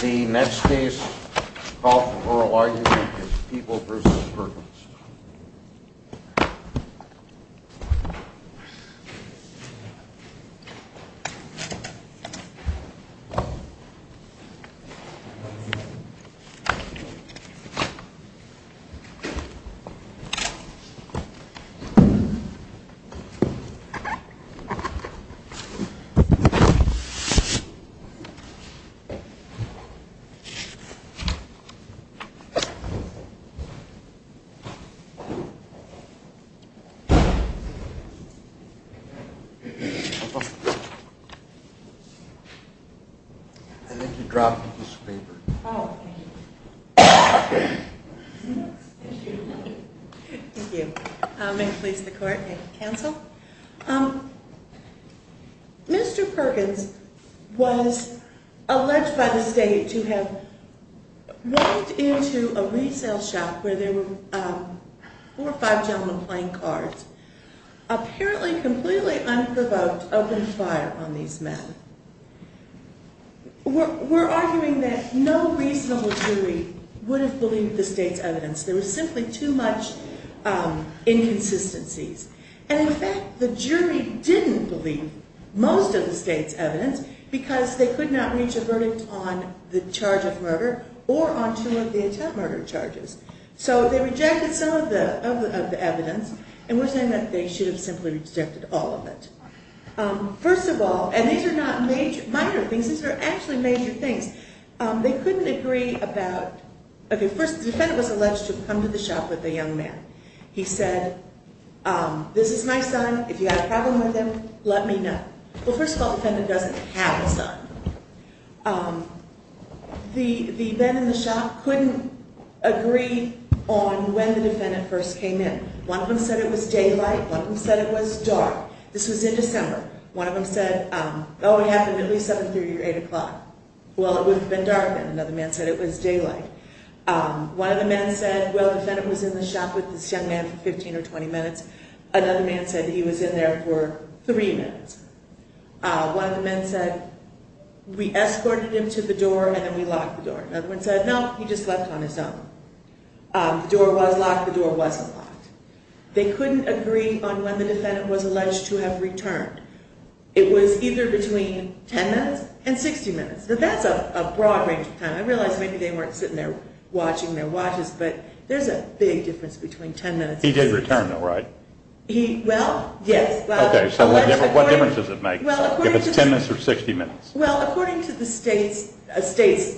The next case is People v. Perkins I think you dropped a piece of paper. Oh, thank you. Thank you. May it please the Court, I cancel. Mr. Perkins was alleged by the state to have walked into a resale shop where there were four or five gentlemen playing cards. Apparently, completely unprovoked, opened fire on these men. We're arguing that no reasonable jury would have believed the state's evidence. There was simply too much inconsistencies. And in fact, the jury didn't believe most of the state's evidence because they could not reach a verdict on the charge of murder or on two of the attempted murder charges. So they rejected some of the evidence, and we're saying that they should have simply rejected all of it. First of all, and these are not minor things, these are actually major things. They couldn't agree about – okay, first, the defendant was alleged to have come to the shop with a young man. He said, this is my son, if you have a problem with him, let me know. Well, first of all, the defendant doesn't have a son. The men in the shop couldn't agree on when the defendant first came in. One of them said it was daylight, one of them said it was dark. This was in December. One of them said, oh, it happened at least 730 or 8 o'clock. Well, it would have been dark, and another man said it was daylight. One of the men said, well, the defendant was in the shop with this young man for 15 or 20 minutes. Another man said he was in there for three minutes. One of the men said, we escorted him to the door and then we locked the door. Another one said, no, he just left on his own. The door was locked. The door wasn't locked. They couldn't agree on when the defendant was alleged to have returned. It was either between 10 minutes and 60 minutes. That's a broad range of time. I realize maybe they weren't sitting there watching their watches, but there's a big difference between 10 minutes and 60 minutes. He did return, though, right? Well, yes. Okay, so what difference does it make if it's 10 minutes or 60 minutes? Well, according to the state's case,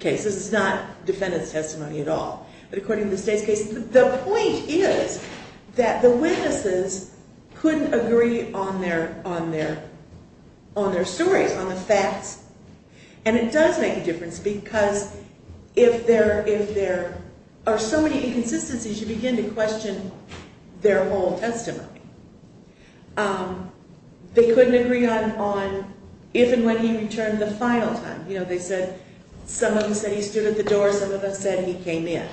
this is not defendant's testimony at all, but according to the state's case, the point is that the witnesses couldn't agree on their stories, on the facts. And it does make a difference because if there are so many inconsistencies, you begin to question their whole testimony. They couldn't agree on if and when he returned the final time. Some of them said he stood at the door. Some of them said he came in.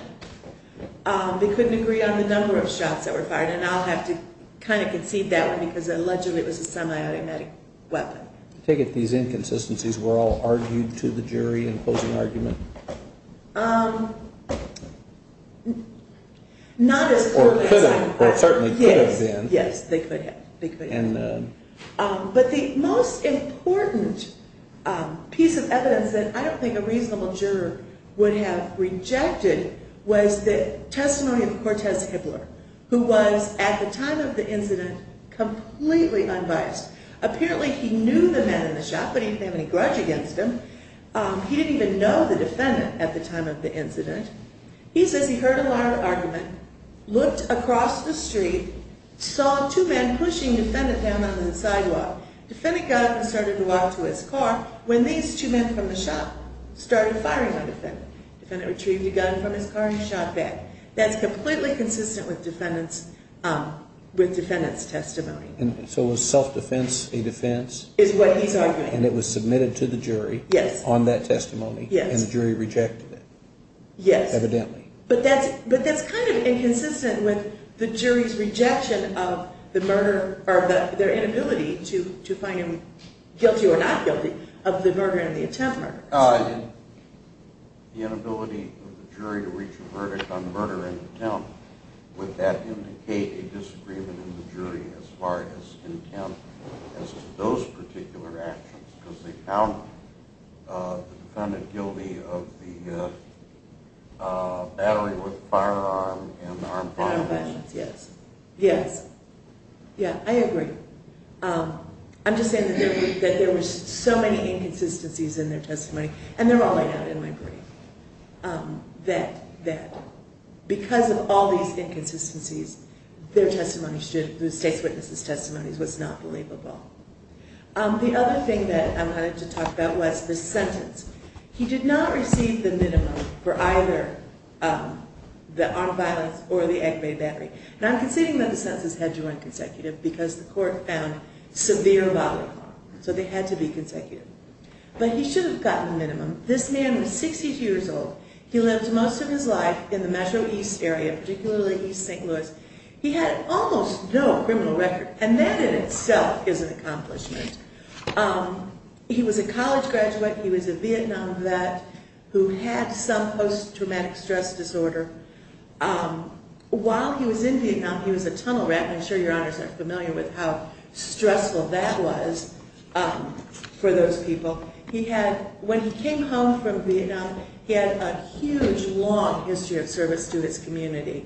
They couldn't agree on the number of shots that were fired. And I'll have to kind of concede that one because allegedly it was a semi-automatic weapon. I take it these inconsistencies were all argued to the jury in closing argument? Not as clearly as I would have liked. Or certainly could have been. Yes, they could have. But the most important piece of evidence that I don't think a reasonable juror would have rejected was the testimony of Cortez Hibbler, who was, at the time of the incident, completely unbiased. Apparently he knew the men in the shot, but he didn't have any grudge against him. He didn't even know the defendant at the time of the incident. He says he heard a loud argument, looked across the street, saw two men pushing the defendant down on the sidewalk. The defendant got up and started to walk to his car when these two men from the shot started firing on the defendant. The defendant retrieved a gun from his car and shot back. That's completely consistent with the defendant's testimony. So was self-defense a defense? Is what he's arguing. And it was submitted to the jury on that testimony? Yes. And the jury rejected it? Yes. Evidently. But that's kind of inconsistent with the jury's rejection of their inability to find him guilty or not guilty of the murder and the attempt murder. The inability of the jury to reach a verdict on murder and attempt, would that indicate a disagreement in the jury as far as intent as to those particular actions? Because they found the defendant guilty of the battery with a firearm and armed violence. Armed violence, yes. Yes. Yeah, I agree. I'm just saying that there were so many inconsistencies in their testimony, and they're all laid out in my brief, that because of all these inconsistencies, their testimony, the state's witness' testimony, was not believable. The other thing that I wanted to talk about was the sentence. He did not receive the minimum for either the armed violence or the aggravated battery. And I'm considering that the sentences had to run consecutive because the court found severe bodily harm. So they had to be consecutive. But he should have gotten the minimum. This man was 62 years old. He lived most of his life in the metro east area, particularly east St. Louis. He had almost no criminal record. And that in itself is an accomplishment. He was a college graduate. He was a Vietnam vet who had some post-traumatic stress disorder. While he was in Vietnam, he was a tunnel rat, and I'm sure your honors are familiar with how stressful that was for those people. When he came home from Vietnam, he had a huge, long history of service to his community.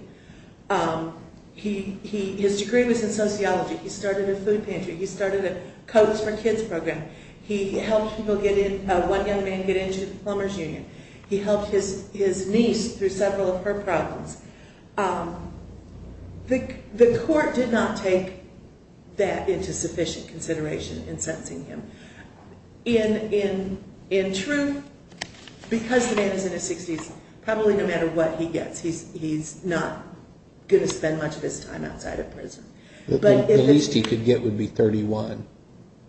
His degree was in sociology. He started a food pantry. He started a coach for kids program. He helped one young man get into the plumber's union. He helped his niece through several of her problems. The court did not take that into sufficient consideration in sentencing him. In truth, because the man is in his 60s, probably no matter what he gets, he's not going to spend much of his time outside of prison. The least he could get would be 31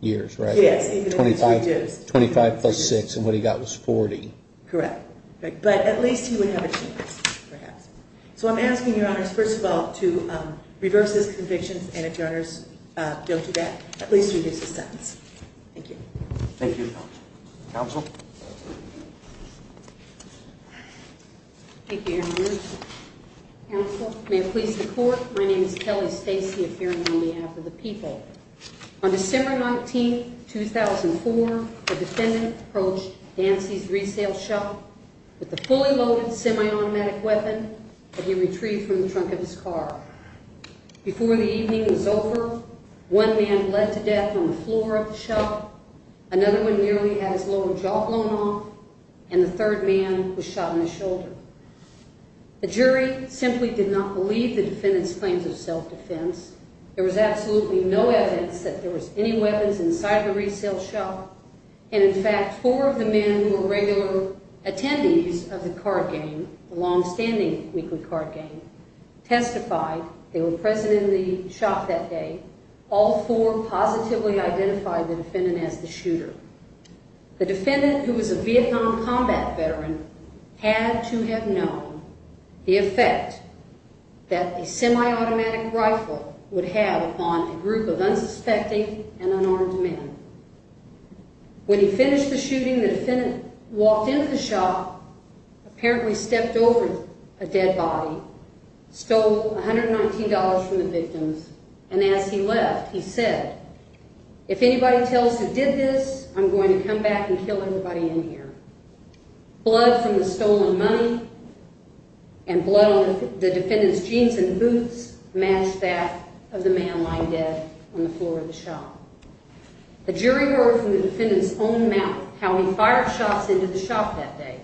years, right? Yes, even if it's reduced. 25 plus 6, and what he got was 40. Correct. But at least he would have a chance, perhaps. So I'm asking your honors, first of all, to reverse his convictions, and if your honors don't do that, at least reduce his sentence. Thank you. Thank you. Counsel? Thank you, your honors. Counsel, may it please the court, my name is Kelly Stacy, appearing on behalf of the people. On December 19, 2004, a defendant approached Dancy's resale shop with a fully loaded semi-automatic weapon that he retrieved from the trunk of his car. Before the evening was over, one man bled to death on the floor of the shop, another one nearly had his lower jaw blown off, and the third man was shot in the shoulder. The jury simply did not believe the defendant's claims of self-defense. There was absolutely no evidence that there was any weapons inside the resale shop, and, in fact, four of the men who were regular attendees of the card game, the longstanding weekly card game, testified. They were present in the shop that day. All four positively identified the defendant as the shooter. The defendant, who was a Vietnam combat veteran, had to have known the effect that a semi-automatic rifle would have upon a group of unsuspecting and unarmed men. When he finished the shooting, the defendant walked into the shop, apparently stepped over a dead body, stole $119 from the victims, and as he left, he said, if anybody tells who did this, I'm going to come back and kill everybody in here. Blood from the stolen money and blood on the defendant's jeans and boots matched that of the man lying dead on the floor of the shop. The jury heard from the defendant's own mouth how he fired shots into the shop that day.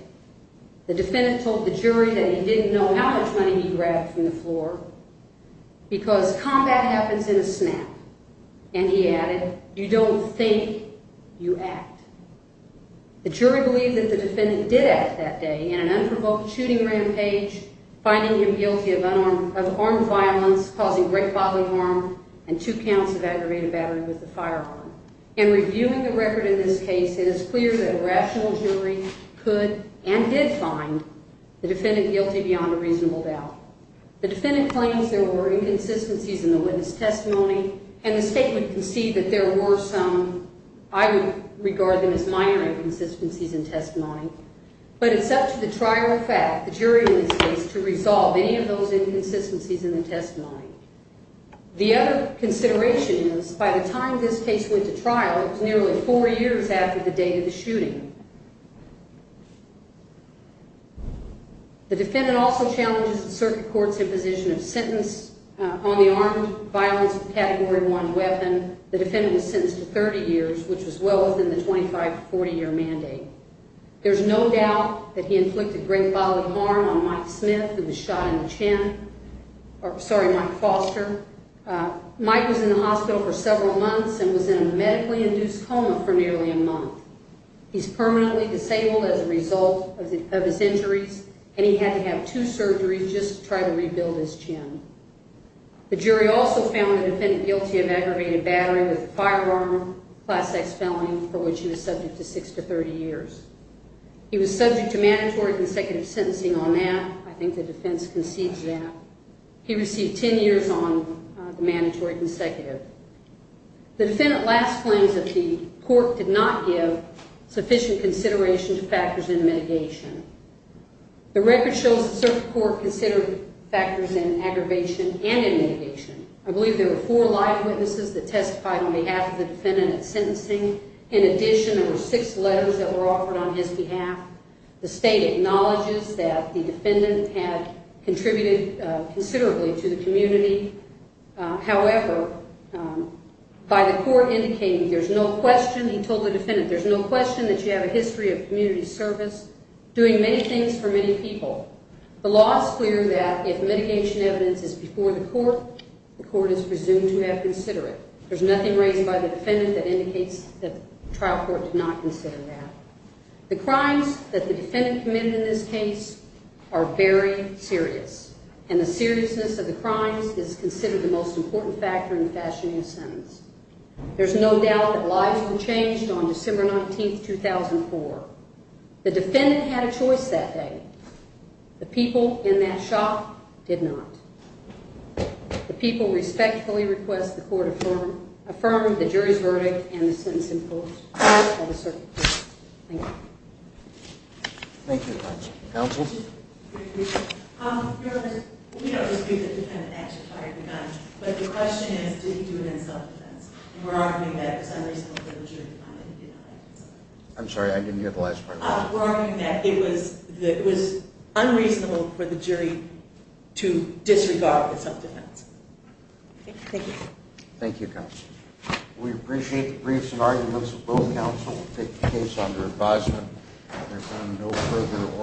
The defendant told the jury that he didn't know how much money he grabbed from the floor because combat happens in a snap. And he added, you don't think, you act. The jury believed that the defendant did act that day in an unprovoked shooting rampage, finding him guilty of armed violence, causing great bodily harm, and two counts of aggravated battery with a firearm. In reviewing the record in this case, it is clear that a rational jury could and did find the defendant guilty beyond a reasonable doubt. The defendant claims there were inconsistencies in the witness testimony, and the State would concede that there were some. I would regard them as minor inconsistencies in testimony. But it's up to the trial fact, the jury in this case, to resolve any of those inconsistencies in the testimony. The other consideration is, by the time this case went to trial, it was nearly four years after the date of the shooting. The defendant also challenges the circuit court's imposition of sentence on the armed violence category one weapon. The defendant was sentenced to 30 years, which was well within the 25-40 year mandate. There's no doubt that he inflicted great bodily harm on Mike Smith, who was shot in the chin. Sorry, Mike Foster. Mike was in the hospital for several months and was in a medically induced coma for nearly a month. He's permanently disabled as a result of his injuries, and he had to have two surgeries just to try to rebuild his chin. The jury also found the defendant guilty of aggravated battery with a firearm, class X felony, for which he was subject to six to 30 years. He was subject to mandatory consecutive sentencing on that. I think the defense concedes that. He received 10 years on the mandatory consecutive. The defendant last claims that the court did not give sufficient consideration to factors in mitigation. The record shows the circuit court considered factors in aggravation and in mitigation. I believe there were four live witnesses that testified on behalf of the defendant at sentencing. In addition, there were six letters that were offered on his behalf. The state acknowledges that the defendant had contributed considerably to the community. However, by the court indicating there's no question, he told the defendant, there's no question that you have a history of community service, doing many things for many people. The law is clear that if mitigation evidence is before the court, the court is presumed to have considered it. There's nothing raised by the defendant that indicates that the trial court did not consider that. The crimes that the defendant committed in this case are very serious, and the seriousness of the crimes is considered the most important factor in fashioning a sentence. There's no doubt that lives were changed on December 19th, 2004. The defendant had a choice that day. The people in that shop did not. The people respectfully request the court affirm the jury's verdict and the sentence imposed by the circuit court. Thank you. Thank you very much. Counsel? Your Honor, we don't disagree that the defendant actually fired the gun. But the question is, did he do it in self-defense? We're arguing that it was unreasonable for the jury to find that he did not. I'm sorry, I didn't hear the last part of that. We're arguing that it was unreasonable for the jury to disregard the self-defense. Thank you. Thank you, counsel. We appreciate the briefs and arguments. Both counsel will take the case under advisement. There's one no further oral.